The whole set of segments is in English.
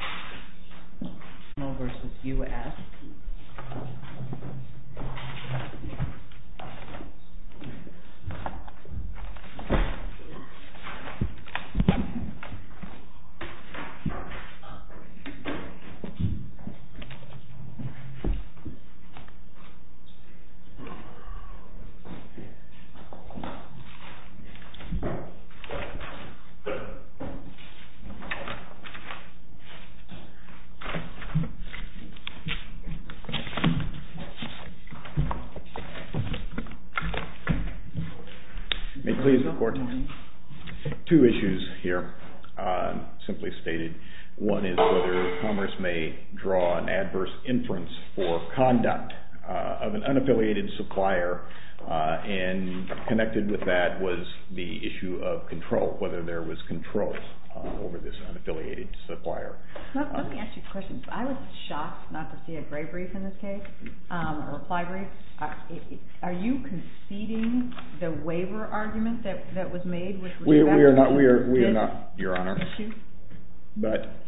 JANJIN MAGNESIUM INTL v. United States Government May I please report? Two issues here, simply stated. One is whether Commerce may draw an adverse inference for conduct of an unaffiliated supplier and connected with that was the issue of control whether there was control over this unaffiliated supplier. Let me ask you a question. I was shocked not to see a gray brief in this case, a reply brief. Are you conceding the waiver argument that was made? We are not, Your Honor. But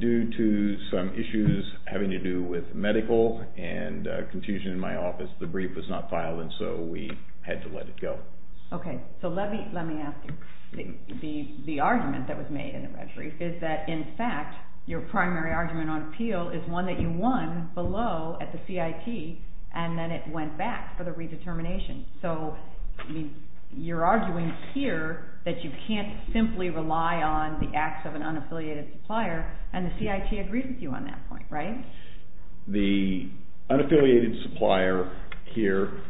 due to some issues having to do with medical and confusion in my office, the brief was not filed and so we had to let it go. Okay, so let me ask you. The argument that was made in the red brief is that in fact, your primary argument on appeal is one that you won below at the CIT and then it went back for the redetermination. So you're arguing here that you can't simply rely on the acts of an unaffiliated supplier and the CIT agrees with you on that point, right? The unaffiliated supplier here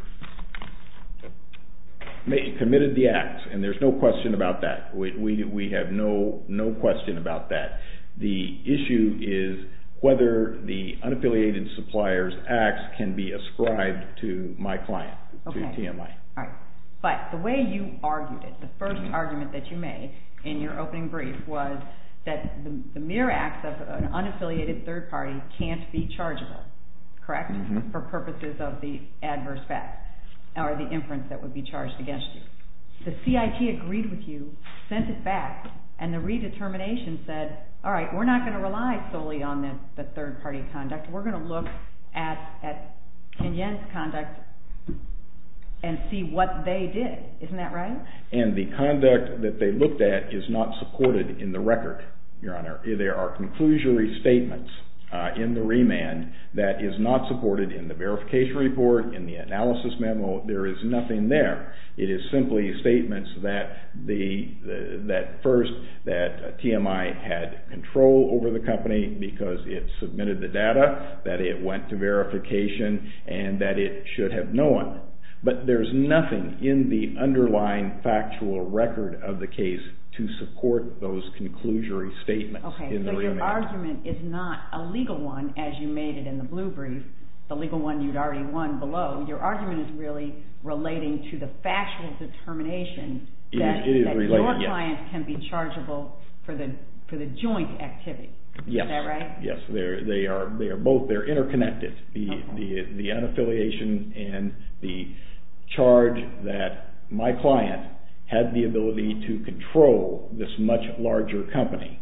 committed the acts and there's no question about that. We have no question about that. The issue is whether the unaffiliated supplier's acts can be ascribed to my client, to TMI. Okay, all right. But the way you argued it, the first argument that you made in your opening brief was that the mere acts of an unaffiliated third party can't be chargeable, correct, for purposes of the adverse facts or the inference that would be charged against you. The CIT agreed with you, sent it back, and the redetermination said, all right, we're not going to rely solely on the third party conduct. We're going to look at Kenyon's conduct and see what they did, isn't that right? And the conduct that they looked at is not supported in the record, Your Honor. There are conclusory statements in the remand that is not supported in the verification report, in the analysis memo, there is nothing there. It is simply statements that first, that TMI had control over the company because it submitted the data, that it went to verification, and that it should have known. But there's nothing in the underlying factual record of the case to support those conclusory statements. Okay, so your argument is not a legal one as you made it in the blue brief, the legal one you'd already won below, your argument is really relating to the factual determination that your client can be chargeable for the joint activity, is that right? Yes, they are both, they're interconnected. The unaffiliation and the charge that my client had the ability to control this much larger company,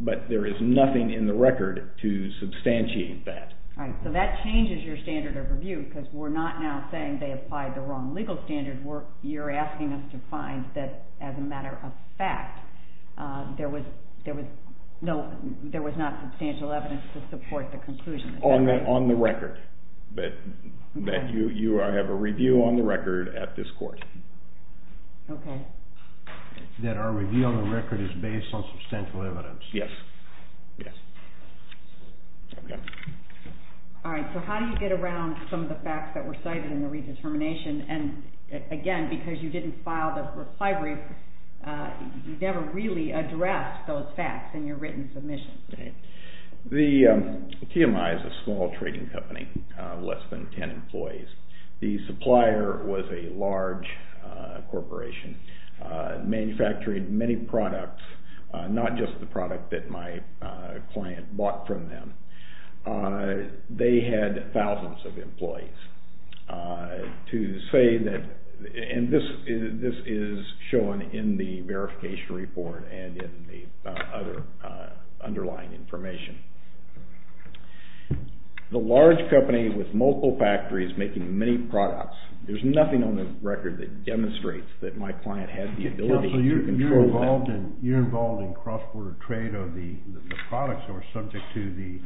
but there is nothing in the record to substantiate that. All right, so that changes your standard of review because we're not now saying they applied the wrong legal standard, you're asking us to find that as a matter of fact, there was not substantial evidence to support the conclusion. On the record, that you have a review on the record at this court. Okay. That our review on the record is based on substantial evidence. Yes, yes. Okay. All right, so how do you get around some of the facts that were cited in the redetermination, and again, because you didn't file the reply brief, you never really addressed those facts in your written submission. The TMI is a small trading company, less than 10 employees. The supplier was a large corporation, manufacturing many products, not just the product that my client bought from them. They had thousands of employees. To say that, and this is shown in the verification report and in the other underlying information. The large company with multiple factories making many products, there's nothing on the record that demonstrates that my client had the ability to control that. Counselor, you're involved in cross-border trade of the products that were subject to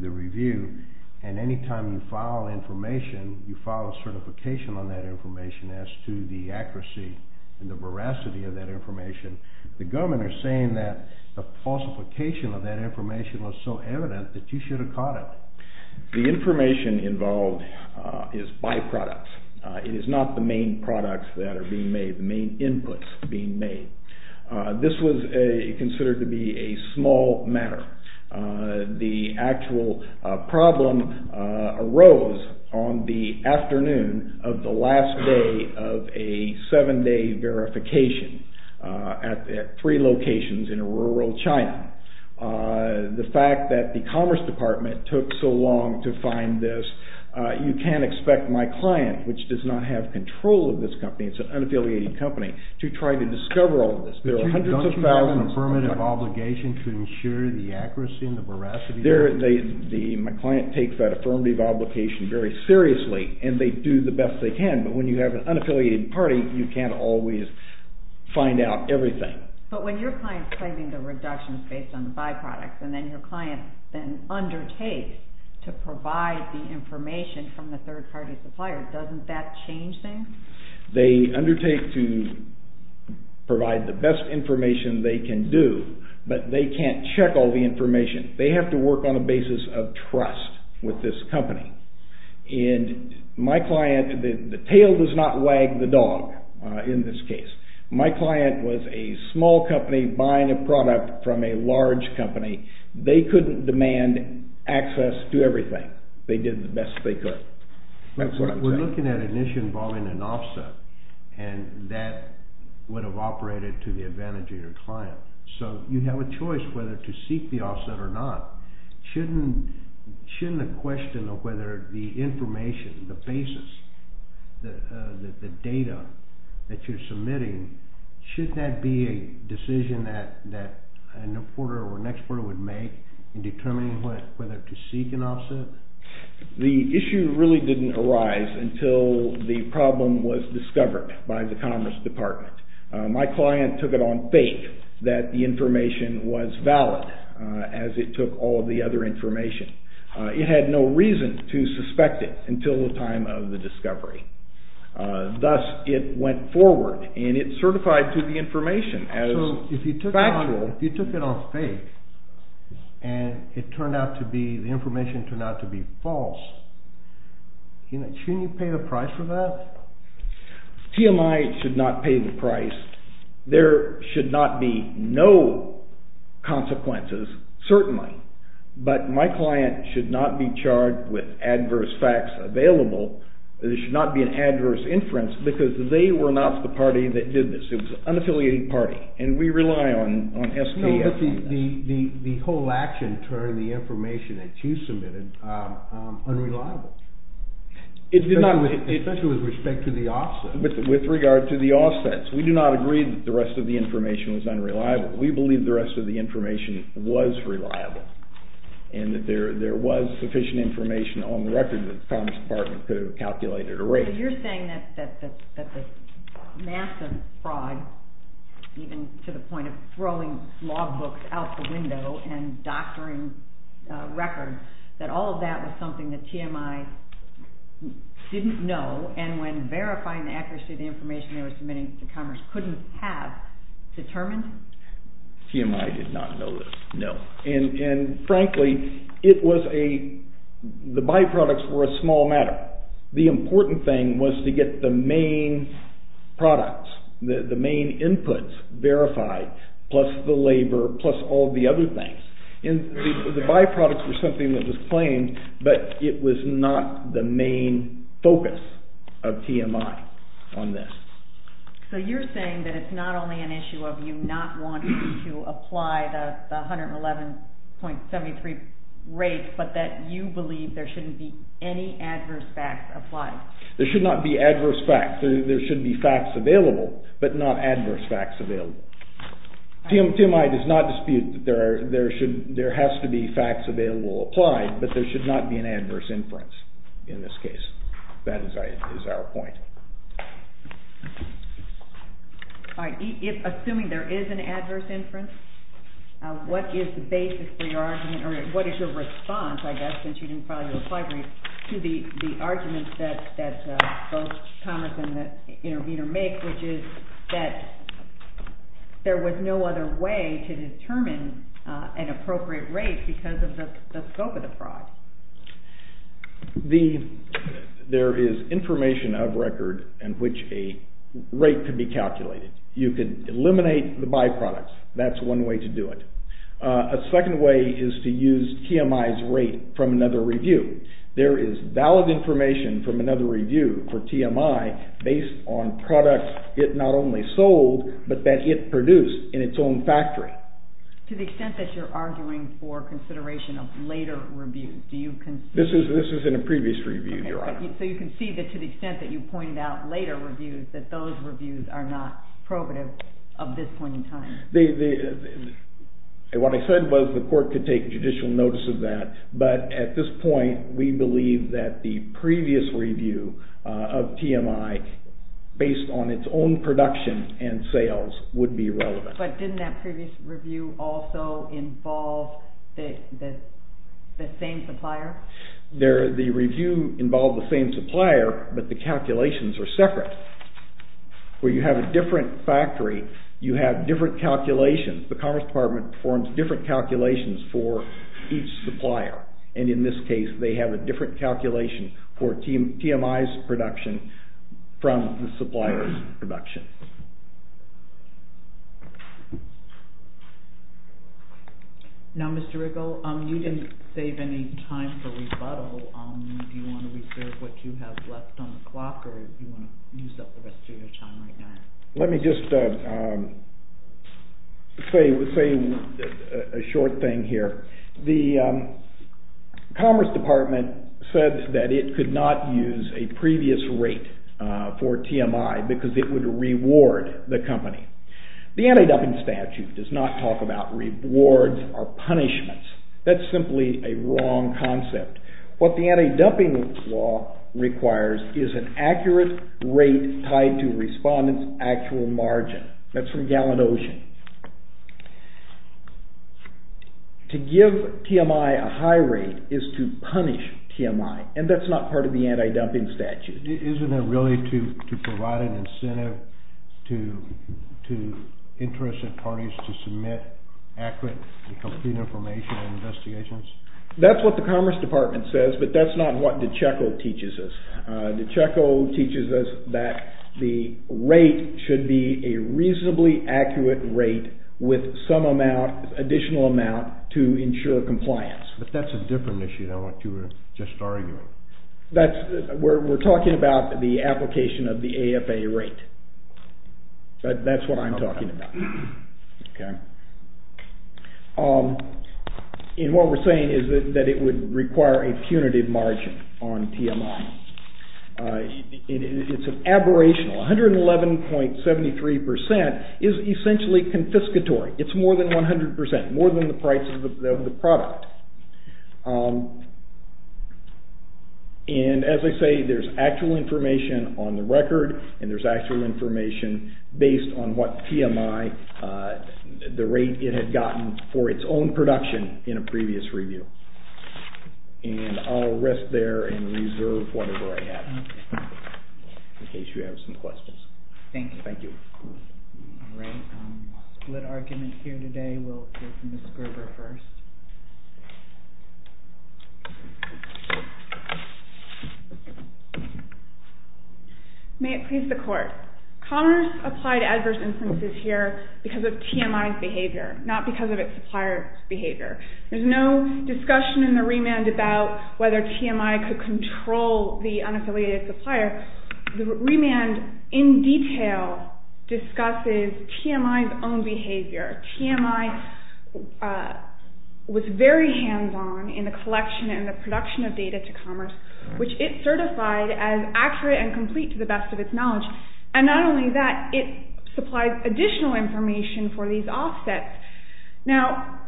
the review, and any time you file information, you file a certification on that information as to the accuracy and the veracity of that information. The government are saying that the falsification of that information was so evident that you should have caught it. The information involved is byproducts. It is not the main products that are being made, the main inputs being made. This was considered to be a small matter. The actual problem arose on the afternoon of the last day of a seven-day verification at three locations in rural China. The fact that the Commerce Department took so long to find this, you can't expect my client, which does not have control of this company, it's an unaffiliated company, to try to discover all of this. But you don't have an affirmative obligation to ensure the accuracy and the veracity of it? My client takes that affirmative obligation very seriously, and they do the best they can, but when you have an unaffiliated party, you can't always find out everything. But when your client's claiming the reduction is based on byproducts, and then your client then undertakes to provide the information from the third-party supplier, doesn't that change things? They undertake to provide the best information they can do, but they can't check all the information. They have to work on a basis of trust with this company. And my client, the tail does not wag the dog in this case. My client was a small company buying a product from a large company. They couldn't demand access to everything. They did the best they could. That's what I'm saying. We're looking at an issue involving an offset, and that would have operated to the advantage of your client. So you have a choice whether to seek the offset or not. Shouldn't the question of whether the information, the basis, the data that you're submitting, shouldn't that be a decision that an reporter or an expert would make in determining whether to seek an offset? The issue really didn't arise until the problem was discovered by the Commerce Department. My client took it on faith that the information was valid as it took all the other information. It had no reason to suspect it until the time of the discovery. Thus, it went forward, and it certified to the information as factual. So if you took it on faith, and the information turned out to be false, shouldn't you pay the price for that? TMI should not pay the price. There should not be no consequences, certainly, but my client should not be charged with adverse facts available. There should not be an adverse inference because they were not the party that did this. It was an unaffiliated party, and we rely on SDS. But the whole action turned the information that you submitted unreliable, especially with respect to the offsets. With regard to the offsets. We do not agree that the rest of the information was unreliable. We believe the rest of the information was reliable and that there was sufficient information on the record that the Commerce Department could have calculated or rated. You're saying that the massive fraud, even to the point of throwing law books out the window and doctoring records, that all of that was something that TMI didn't know, and when verifying the accuracy of the information they were submitting to Commerce couldn't have determined? TMI did not know this, no. And frankly, the byproducts were a small matter. The important thing was to get the main products, the main inputs verified, plus the labor, plus all the other things. And the byproducts were something that was claimed, but it was not the main focus of TMI on this. So you're saying that it's not only an issue of you not wanting to apply the 111.73 rate, but that you believe there shouldn't be any adverse facts applied. There should not be adverse facts. There should be facts available, but not adverse facts available. TMI does not dispute that there has to be facts available applied, but there should not be an adverse inference in this case. That is our point. Assuming there is an adverse inference, what is the basis for your argument, or what is your response, I guess, since you didn't file your reply brief, to the arguments that both Commerce and the interviewer make, which is that there was no other way to determine an appropriate rate because of the scope of the fraud? There is information of record in which a rate could be calculated. You could eliminate the byproducts. That's one way to do it. A second way is to use TMI's rate from another review. There is valid information from another review for TMI based on products it not only sold, but that it produced in its own factory. To the extent that you're arguing for consideration of later reviews, do you... This is in a previous review, Your Honor. So you can see that to the extent that you pointed out later reviews, that those reviews are not probative of this point in time. What I said was the court could take judicial notice of that, but at this point, we believe that the previous review of TMI based on its own production and sales would be relevant. But didn't that previous review also involve the same supplier? The review involved the same supplier, but the calculations are separate. Where you have a different factory, you have different calculations. The Commerce Department performs different calculations for each supplier. And in this case, they have a different calculation for TMI's production from the supplier's production. Now, Mr. Riggle, you didn't save any time for rebuttal. Do you want to reserve what you have left on the clock, or do you want to use up the rest of your time right now? Let me just say a short thing here. The Commerce Department said that it could not use a previous rate for TMI because it would reward the company. The Anti-Dumping Statute does not talk about rewards or punishments. That's simply a wrong concept. What the Anti-Dumping Law requires is an accurate rate tied to respondent's actual margin. That's from Gallon-Ocean. To give TMI a high rate is to punish TMI, and that's not part of the Anti-Dumping Statute. Isn't it really to provide an incentive to interested parties to submit accurate and complete information and investigations? That's what the Commerce Department says, but that's not what DiCicco teaches us. DiCicco teaches us that the rate should be a reasonably accurate rate with some additional amount to ensure compliance. But that's a different issue than what you were just arguing. We're talking about the application of the AFA rate. That's what I'm talking about. And what we're saying is that it would require a punitive margin on TMI. It's an aberration. 111.73% is essentially confiscatory. It's more than 100%, more than the price of the product. And as I say, there's actual information on the record, and there's actual information based on what TMI, the rate it had gotten for its own production in a previous review. And I'll rest there and reserve whatever I have, in case you have some questions. Thank you. Thank you. All right. Split argument here today. We'll hear from Ms. Gerber first. May it please the Court. Commerce applied adverse instances here because of TMI's behavior, not because of its supplier's behavior. There's no discussion in the remand about whether TMI could control the unaffiliated supplier. The remand, in detail, discusses TMI's own behavior. TMI was very hands-on in the collection and the production of data to Commerce, which it certified as accurate and complete to the best of its knowledge. And not only that, it supplied additional information for these offsets. Now,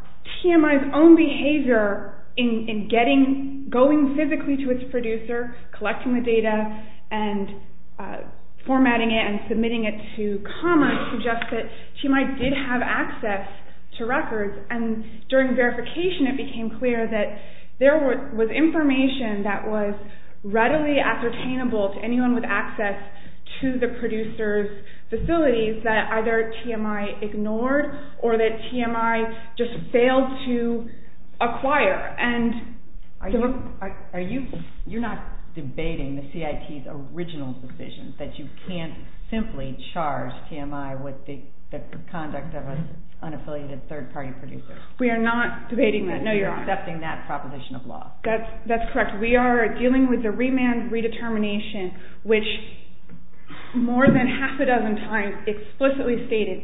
TMI's own behavior in going physically to its producer, collecting the data and formatting it and submitting it to Commerce, suggests that TMI did have access to records. And during verification, it became clear that there was information that was readily ascertainable to anyone with access to the producer's facilities that either TMI ignored or that TMI just failed to acquire. You're not debating the CIT's original decision that you can't simply charge TMI with the conduct of an unaffiliated third-party producer. We are not debating that. No, you're not. You're accepting that proposition of law. That's correct. We are dealing with the remand redetermination, which more than half a dozen times explicitly stated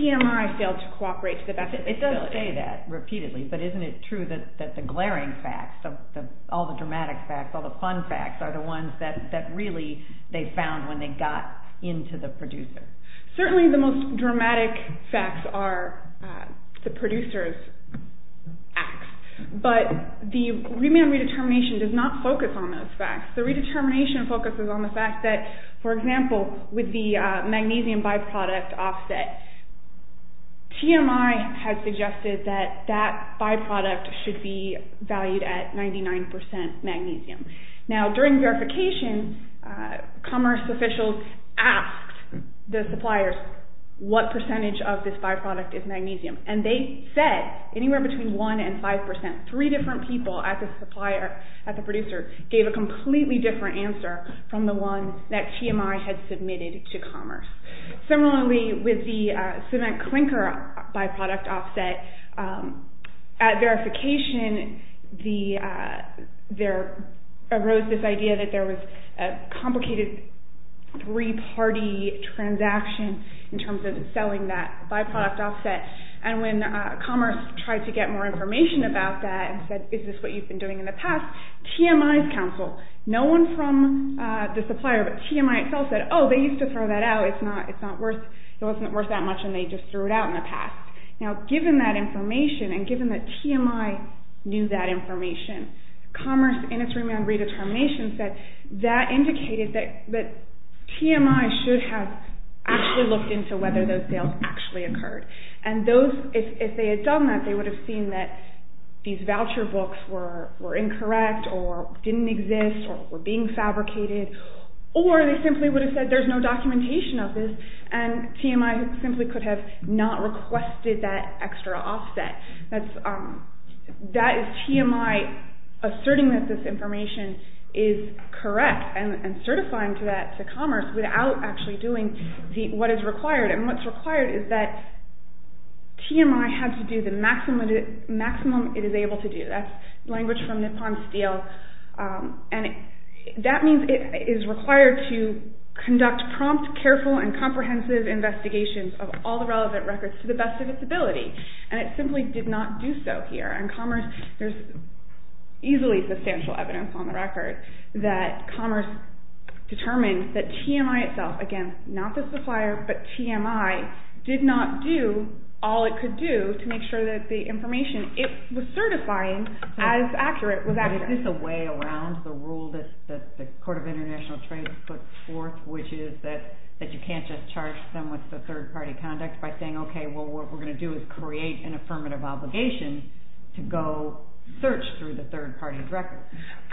TMI failed to cooperate to the best of its ability. It does say that repeatedly, but isn't it true that the glaring facts, all the dramatic facts, all the fun facts, are the ones that really they found when they got into the producer? Certainly the most dramatic facts are the producer's acts, but the remand redetermination does not focus on those facts. The redetermination focuses on the fact that, for example, with the magnesium byproduct offset, TMI has suggested that that byproduct should be valued at 99% magnesium. Now, during verification, commerce officials asked the suppliers what percentage of this byproduct is magnesium, and they said anywhere between 1% and 5%. Three different people at the producer gave a completely different answer from the one that TMI had submitted to commerce. Similarly, with the cement clinker byproduct offset, at verification there arose this idea that there was a complicated three-party transaction in terms of selling that byproduct offset, and when commerce tried to get more information about that and said, is this what you've been doing in the past, TMI's counsel, no one from the supplier, but TMI itself said, oh, they used to throw that out, it wasn't worth that much, and they just threw it out in the past. Now, given that information, and given that TMI knew that information, commerce, in its remand redetermination set, that indicated that TMI should have actually looked into whether those sales actually occurred. And if they had done that, they would have seen that these voucher books were incorrect or didn't exist or were being fabricated, or they simply would have said there's no documentation of this, and TMI simply could have not requested that extra offset. That is TMI asserting that this information is correct and certifying that to commerce without actually doing what is required. And what's required is that TMI has to do the maximum it is able to do. That's language from Nippon Steel. And that means it is required to conduct prompt, careful, and comprehensive investigations of all the relevant records to the best of its ability. And it simply did not do so here. And commerce, there's easily substantial evidence on the record that commerce determined that TMI itself, again, not the supplier, but TMI did not do all it could do to make sure that the information it was certifying as accurate was accurate. But is this a way around the rule that the Court of International Trade puts forth, which is that you can't just charge them with the third-party conduct by saying, okay, what we're going to do is create an affirmative obligation to go search through the third-party records.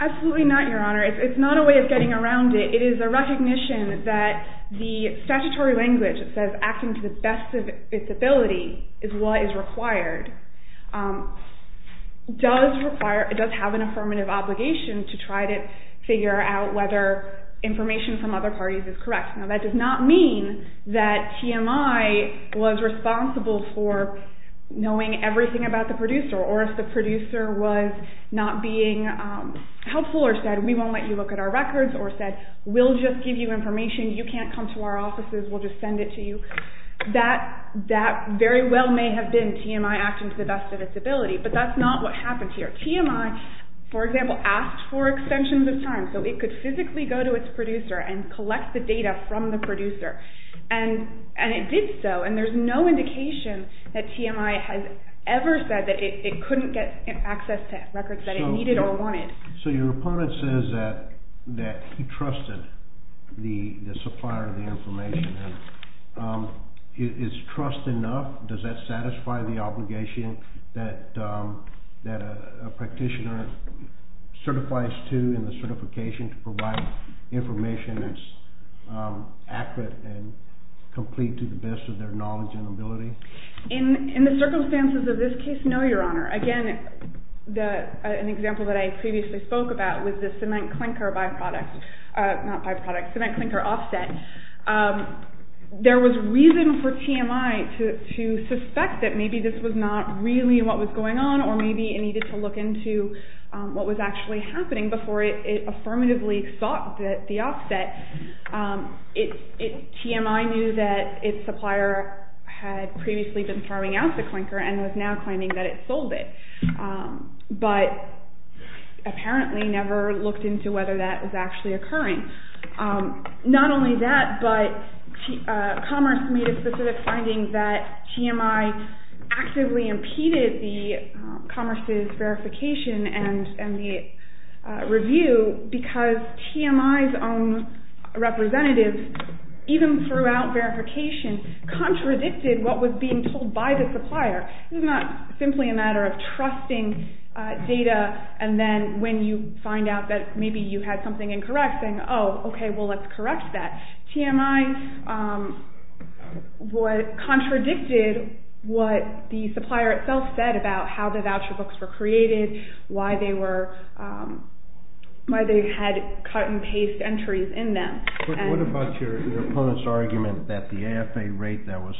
Absolutely not, Your Honor. It's not a way of getting around it. It is a recognition that the statutory language that says acting to the best of its ability is what is required. It does have an affirmative obligation to try to figure out whether information from other parties is correct. Now, that does not mean that TMI was responsible for knowing everything about the producer, or if the producer was not being helpful or said, we won't let you look at our records, or said, we'll just give you information, you can't come to our offices, we'll just send it to you. That very well may have been TMI acting to the best of its ability, but that's not what happened here. TMI, for example, asked for extensions of time so it could physically go to its producer and collect the data from the producer. And it did so, and there's no indication that TMI has ever said that it couldn't get access to records that it needed or wanted. So your opponent says that he trusted the supplier of the information. Is trust enough? Does that satisfy the obligation that a practitioner certifies to in the certification to provide information that's accurate and complete to the best of their knowledge and ability? In the circumstances of this case, no, Your Honor. Again, an example that I previously spoke about was the cement clinker offset. There was reason for TMI to suspect that maybe this was not really what was going on, or maybe it needed to look into what was actually happening before it affirmatively sought the offset. TMI knew that its supplier had previously been farming out the clinker and was now claiming that it sold it. But apparently never looked into whether that was actually occurring. Not only that, but Commerce made a specific finding that TMI actively impeded the Commerce's verification and the review because TMI's own representatives, even throughout verification, contradicted what was being told by the supplier. It was not simply a matter of trusting data, and then when you find out that maybe you had something incorrect, saying, oh, okay, well, let's correct that. TMI contradicted what the supplier itself said about how the voucher books were created, why they had cut-and-paste entries in them. What about your opponent's argument that the AFA rate that was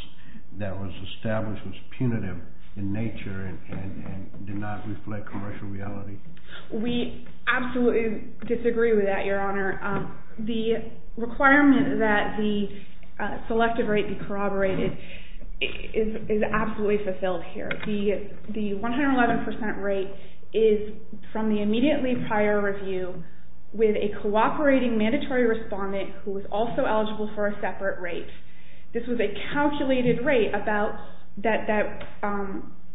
established was punitive in nature and did not reflect commercial reality? We absolutely disagree with that, Your Honor. The requirement that the selective rate be corroborated is absolutely fulfilled here. The 111% rate is from the immediately prior review with a cooperating mandatory respondent who was also eligible for a separate rate. This was a calculated rate about that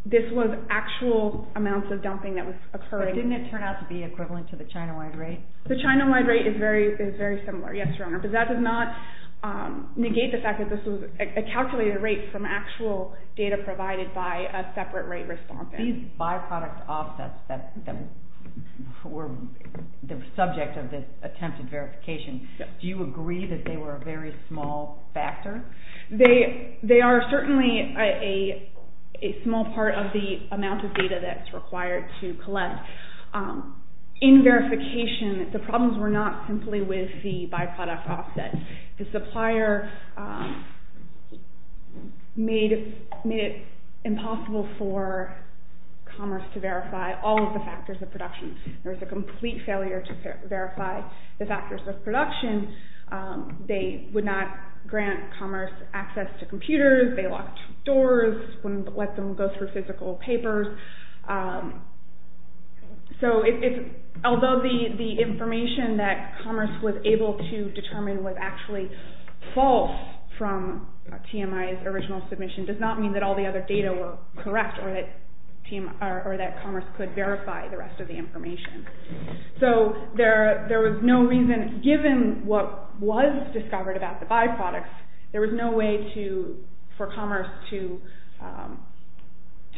this was actual amounts of dumping that was occurring. But didn't it turn out to be equivalent to the China-wide rate? The China-wide rate is very similar, yes, Your Honor, but that does not negate the fact that this was a calculated rate from actual data provided by a separate rate respondent. These byproduct offsets that were the subject of this attempted verification, do you agree that they were a very small factor? They are certainly a small part of the amount of data that's required to collect. In verification, the problems were not simply with the byproduct offset. The supplier made it impossible for Commerce to verify all of the factors of production. There was a complete failure to verify the factors of production. They would not grant Commerce access to computers. They locked doors, wouldn't let them go through physical papers. So although the information that Commerce was able to determine was actually false from TMI's original submission does not mean that all the other data were correct or that Commerce could verify the rest of the information. So there was no reason, given what was discovered about the byproducts, there was no way for Commerce to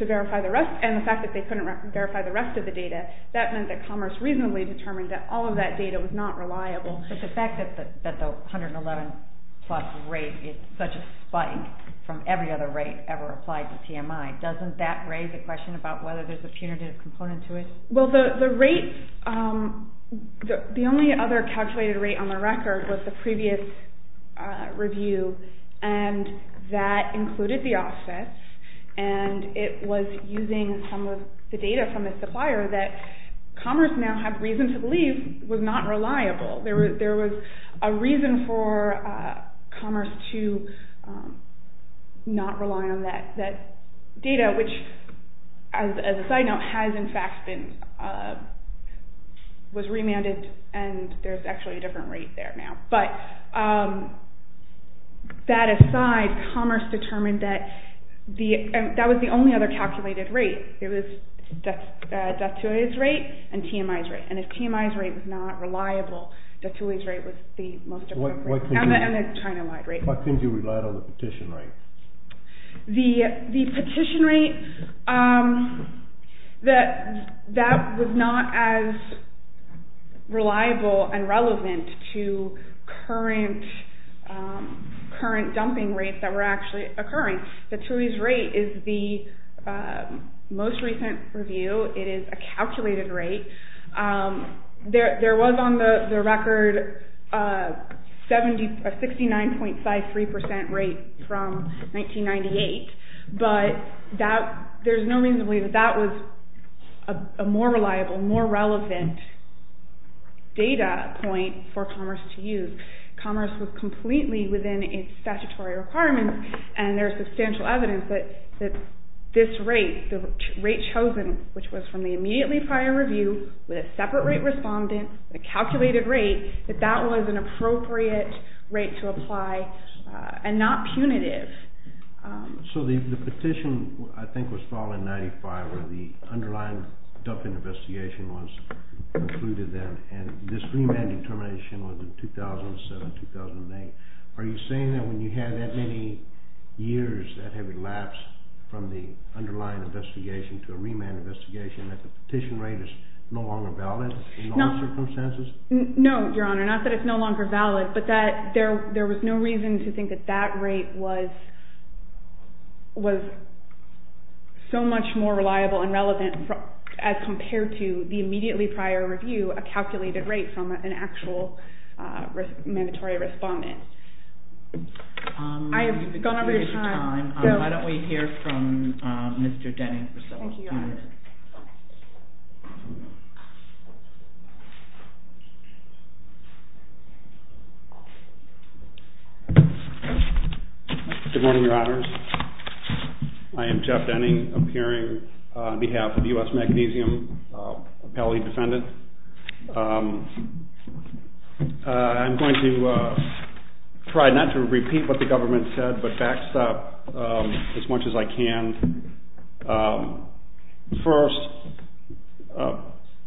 verify the rest, and the fact that they couldn't verify the rest of the data, that meant that Commerce reasonably determined that all of that data was not reliable. But the fact that the 111 plus rate is such a spike from every other rate ever applied to TMI, doesn't that raise a question about whether there's a punitive component to it? Well, the rates, the only other calculated rate on the record was the previous review, and that included the offsets, and it was using some of the data from the supplier that Commerce now had reason to believe was not reliable. There was a reason for Commerce to not rely on that data, which, as a side note, has in fact been remanded, and there's actually a different rate there now. But that aside, Commerce determined that that was the only other calculated rate. It was Datui's rate and TMI's rate, and if TMI's rate was not reliable, Datui's rate was the most accurate rate, and the China-wide rate. Why couldn't you rely on the petition rate? The petition rate, that was not as reliable and relevant to current dumping rates that were actually occurring. Now, Datui's rate is the most recent review. It is a calculated rate. There was on the record a 69.53% rate from 1998, but there's no reason to believe that that was a more reliable, more relevant data point for Commerce to use. Commerce was completely within its statutory requirements, and there's substantial evidence that this rate, the rate chosen, which was from the immediately prior review, with a separate rate respondent, a calculated rate, that that was an appropriate rate to apply and not punitive. So the petition, I think, was filed in 1995, where the underlying dumping investigation was included then, and this remand determination was in 2007, 2008. Are you saying that when you have that many years that have elapsed from the underlying investigation to a remand investigation, that the petition rate is no longer valid in those circumstances? No, Your Honor, not that it's no longer valid, but that there was no reason to think that that rate was so much more reliable and relevant as compared to the immediately prior review, a calculated rate from an actual mandatory respondent. I have gone over your time. Why don't we hear from Mr. Denning for a second? Thank you, Your Honor. Good morning, Your Honors. I am Jeff Denning, appearing on behalf of the U.S. Magnesium appellee defendant. I'm going to try not to repeat what the government said, but backstop as much as I can. First,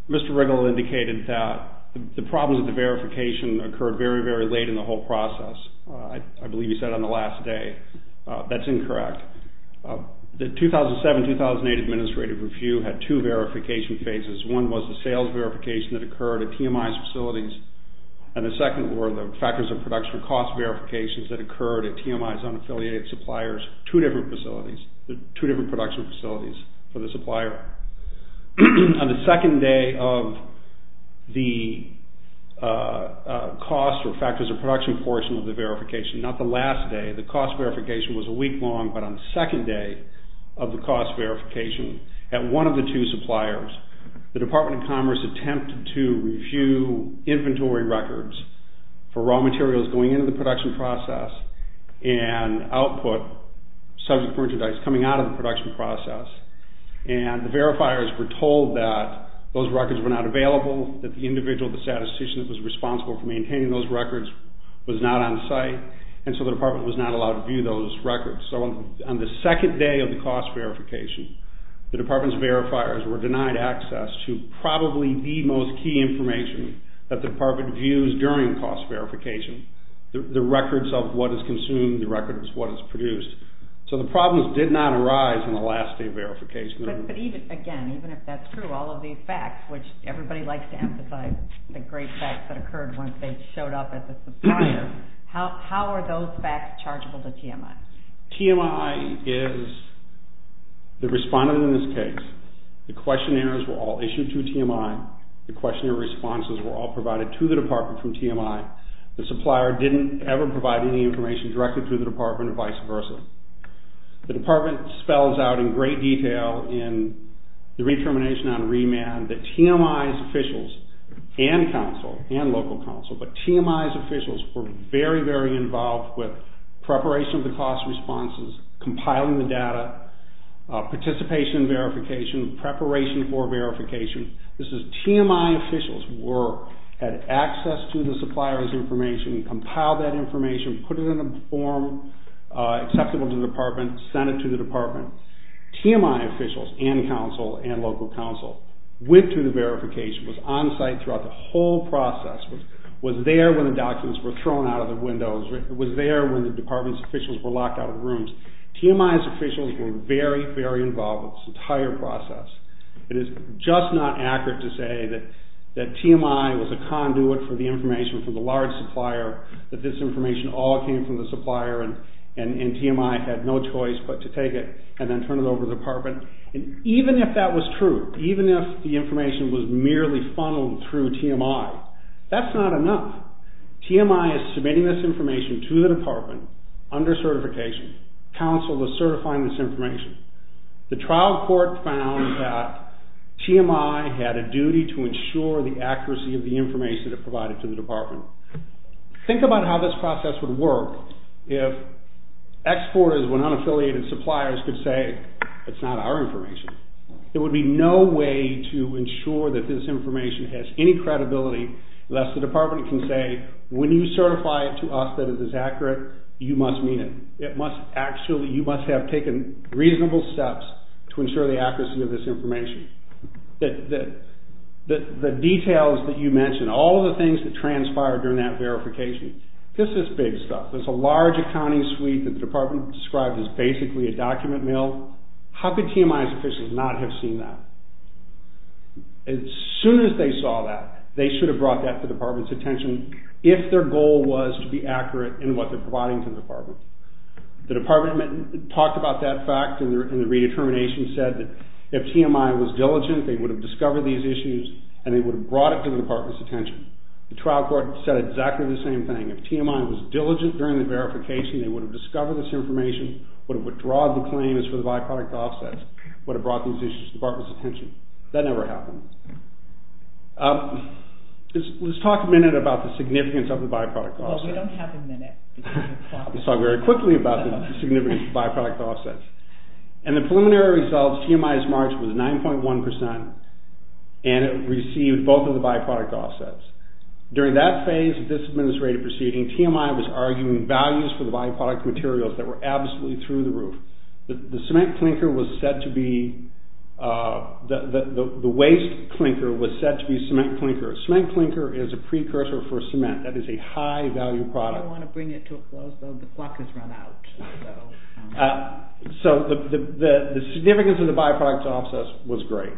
Mr. Riggle indicated that the problems with the verification occurred very, very late in the whole process. I believe he said on the last day. That's incorrect. The 2007-2008 administrative review had two verification phases. One was the sales verification that occurred at TMI's facilities, and the second were the factors of production cost verifications that occurred at TMI's unaffiliated suppliers. Two different facilities, two different production facilities for the supplier. On the second day of the cost or factors of production portion of the verification, not the last day, the cost verification was a week long, but on the second day of the cost verification at one of the two suppliers, the Department of Commerce attempted to review inventory records for raw materials going into the production process and output subject merchandise coming out of the production process. And the verifiers were told that those records were not available, that the individual, the statistician that was responsible for maintaining those records was not on site, and so the department was not allowed to view those records. So on the second day of the cost verification, the department's verifiers were denied access to probably the most key information that the department views during cost verification, the records of what is consumed, the records of what is produced. So the problems did not arise on the last day of verification. But again, even if that's true, all of these facts, which everybody likes to emphasize, the great facts that occurred once they showed up at the supplier, how are those facts chargeable to TMI? TMI is the respondent in this case. The questionnaires were all issued to TMI. The questionnaire responses were all provided to the department from TMI. The supplier didn't ever provide any information directly to the department, or vice versa. The department spells out in great detail in the retermination on remand that TMI's officials and council, and local council, but TMI's officials were very, very involved with preparation of the cost responses, compiling the data, participation in verification, preparation for verification. This is TMI officials' work, had access to the supplier's information, compiled that information, put it in a form acceptable to the department, sent it to the department. TMI officials and council and local council went through the verification, was on site throughout the whole process, was there when the documents were thrown out of the windows, was there when the department's officials were locked out of rooms. TMI's officials were very, very involved with this entire process. It is just not accurate to say that TMI was a conduit for the information from the large supplier, that this information all came from the supplier, and TMI had no choice but to take it and then turn it over to the department. And even if that was true, even if the information was merely funneled through TMI, that's not enough. TMI is submitting this information to the department under certification. Council is certifying this information. The trial court found that TMI had a duty to ensure the accuracy of the information it provided to the department. Think about how this process would work if exporters, when unaffiliated suppliers, could say, it's not our information. There would be no way to ensure that this information has any credibility, lest the department can say, when you certify it to us that it is accurate, you must mean it. You must have taken reasonable steps to ensure the accuracy of this information. The details that you mentioned, all of the things that transpired during that verification, this is big stuff. There's a large accounting suite that the department described as basically a document mill. How could TMI's officials not have seen that? As soon as they saw that, they should have brought that to the department's attention if their goal was to be accurate in what they're providing to the department. The department talked about that fact and the redetermination said that if TMI was diligent, they would have discovered these issues and they would have brought it to the department's attention. The trial court said exactly the same thing. If TMI was diligent during the verification, they would have discovered this information, would have withdrawn the claim as for the byproduct offsets, would have brought these issues to the department's attention. That never happened. Let's talk a minute about the significance of the byproduct offsets. Well, we don't have a minute. Let's talk very quickly about the significance of byproduct offsets. In the preliminary results, TMI's margin was 9.1% and it received both of the byproduct offsets. During that phase of this administrative proceeding, TMI was arguing values for the byproduct materials that were absolutely through the roof. The cement clinker was said to be, the waste clinker was said to be cement clinker. A cement clinker is a precursor for cement. That is a high-value product. I don't want to bring it to a close, though. The clock has run out. So the significance of the byproduct offsets was great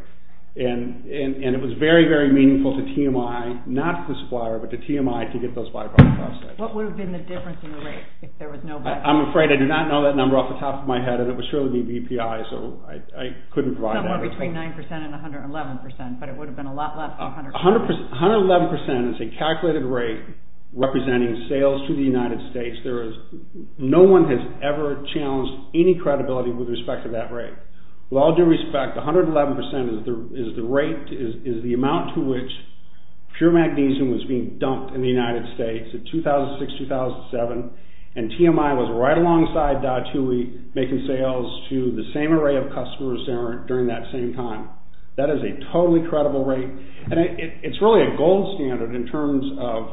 and it was very, very meaningful to TMI, not to the supplier, but to TMI to get those byproduct offsets. What would have been the difference in the rates if there was no byproduct? I'm afraid I do not know that number off the top of my head and it would surely be BPI, so I couldn't provide that. Somewhere between 9% and 111%, but it would have been a lot less than 100%. 111% is a calculated rate representing sales to the United States. No one has ever challenged any credibility with respect to that rate. With all due respect, 111% is the rate, is the amount to which pure magnesium was being dumped in the United States in 2006-2007 and TMI was right alongside Datui making sales to the same array of customers during that same time. That is a totally credible rate and it's really a gold standard in terms of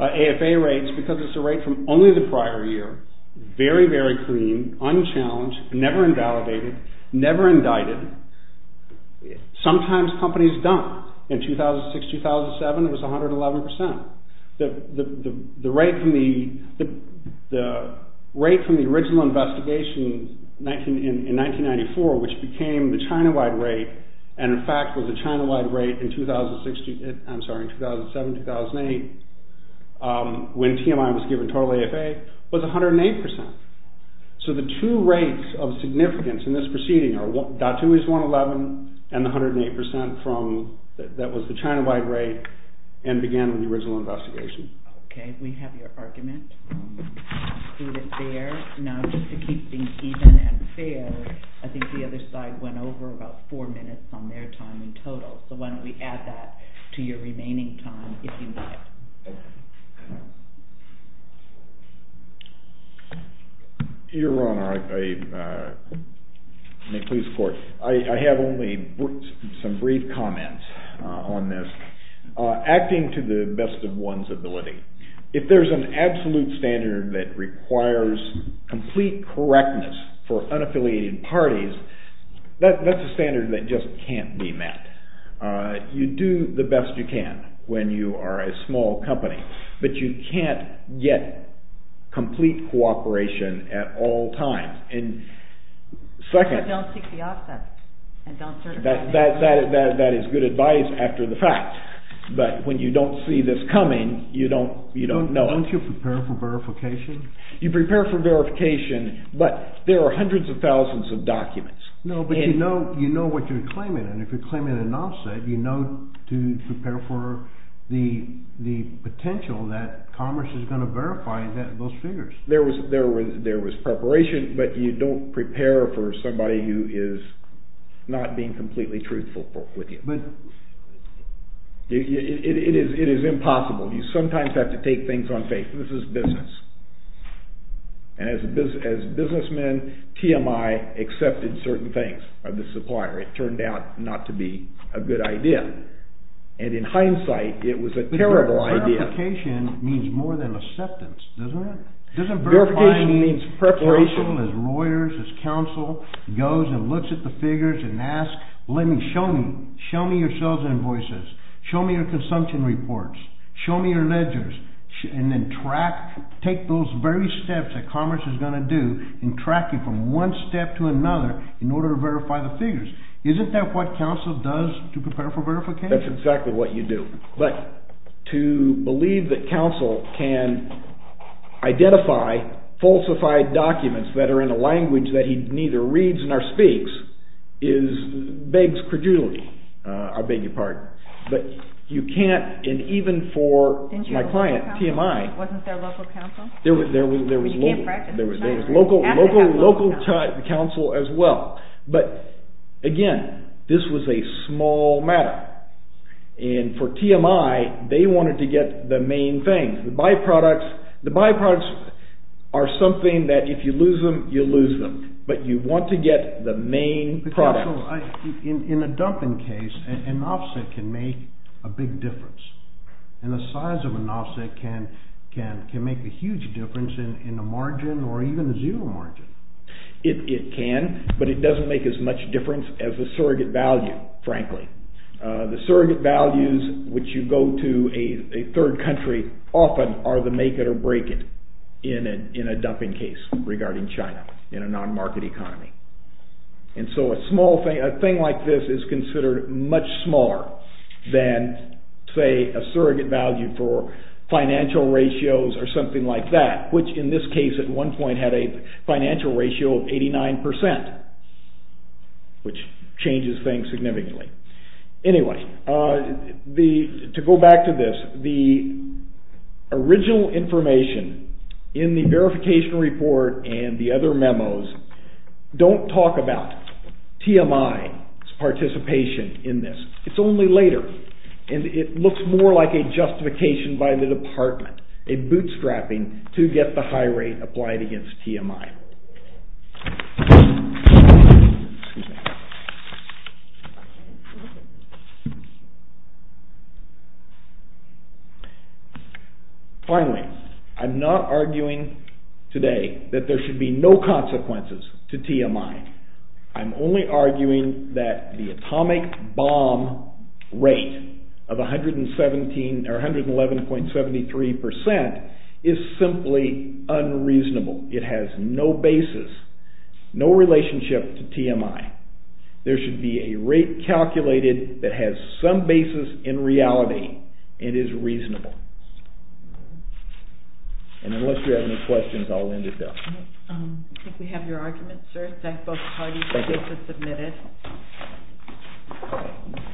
AFA rates because it's a rate from only the prior year, very, very clean, unchallenged, never invalidated, never indicted. Sometimes companies dump. In 2006-2007 it was 111%. The rate from the original investigation in 1994, which became the China-wide rate and in fact was the China-wide rate in 2007-2008 when TMI was given total AFA, was 108%. So the two rates of significance in this proceeding are Datui's 111% and the 108% that was the China-wide rate and began with the original investigation. Okay, we have your argument included there. Now just to keep things even and fair, I think the other side went over about 4 minutes on their time in total, so why don't we add that to your remaining time if you'd like. Your Honor, may it please the Court. I have only some brief comments on this. Acting to the best of one's ability. If there's an absolute standard that requires complete correctness for unaffiliated parties, that's a standard that just can't be met. You do the best you can when you are a small company, but you can't get complete cooperation at all times. And second... But don't seek the offset. That is good advice after the fact. But when you don't see this coming, you don't know. Don't you prepare for verification? You prepare for verification, but there are hundreds of thousands of documents. No, but you know what you're claiming, and if you're claiming an offset, you know to prepare for the potential that Commerce is going to verify those figures. There was preparation, but you don't prepare for somebody who is not being completely truthful with you. But... It is impossible. You sometimes have to take things on faith. This is business. And as businessmen, TMI accepted certain things of the supplier. It turned out not to be a good idea. And in hindsight, it was a terrible idea. But verification means more than acceptance, doesn't it? Verification means preparation. As lawyers, as counsel, goes and looks at the figures and asks, show me your sales invoices, show me your consumption reports, show me your ledgers, and then take those very steps that Commerce is going to do in tracking from one step to another in order to verify the figures. Isn't that what counsel does to prepare for verification? That's exactly what you do. But to believe that counsel can identify falsified documents that are in a language that he neither reads nor speaks begs credulity. I beg your pardon. But you can't... And even for my client, TMI... Wasn't there local counsel? There was local counsel as well. But again, this was a small matter. And for TMI, they wanted to get the main thing. The byproducts are something that if you lose them, you lose them. But you want to get the main product. But counsel, in a dumping case, an offset can make a big difference. And the size of an offset can make a huge difference in the margin or even the zero margin. It can, but it doesn't make as much difference as the surrogate value, frankly. The surrogate values, which you go to a third country, often are the make it or break it in a dumping case regarding China in a non-market economy. And so a small thing, a thing like this is considered much smaller than, say, a surrogate value for financial ratios or something like that, which in this case at one point had a financial ratio of 89%, which changes things significantly. Anyway, to go back to this, the original information in the verification report and the other memos don't talk about TMI's participation in this. It's only later. And it looks more like a justification by the department, a bootstrapping to get the high rate applied against TMI. Excuse me. Finally, I'm not arguing today that there should be no consequences to TMI. I'm only arguing that the atomic bomb rate of 111.73% is simply unreasonable. It has no basis, no relationship to TMI. There should be a rate calculated that has some basis in reality and is reasonable. And unless you have any questions, I'll end it there. I think we have your argument, sir. Thank you.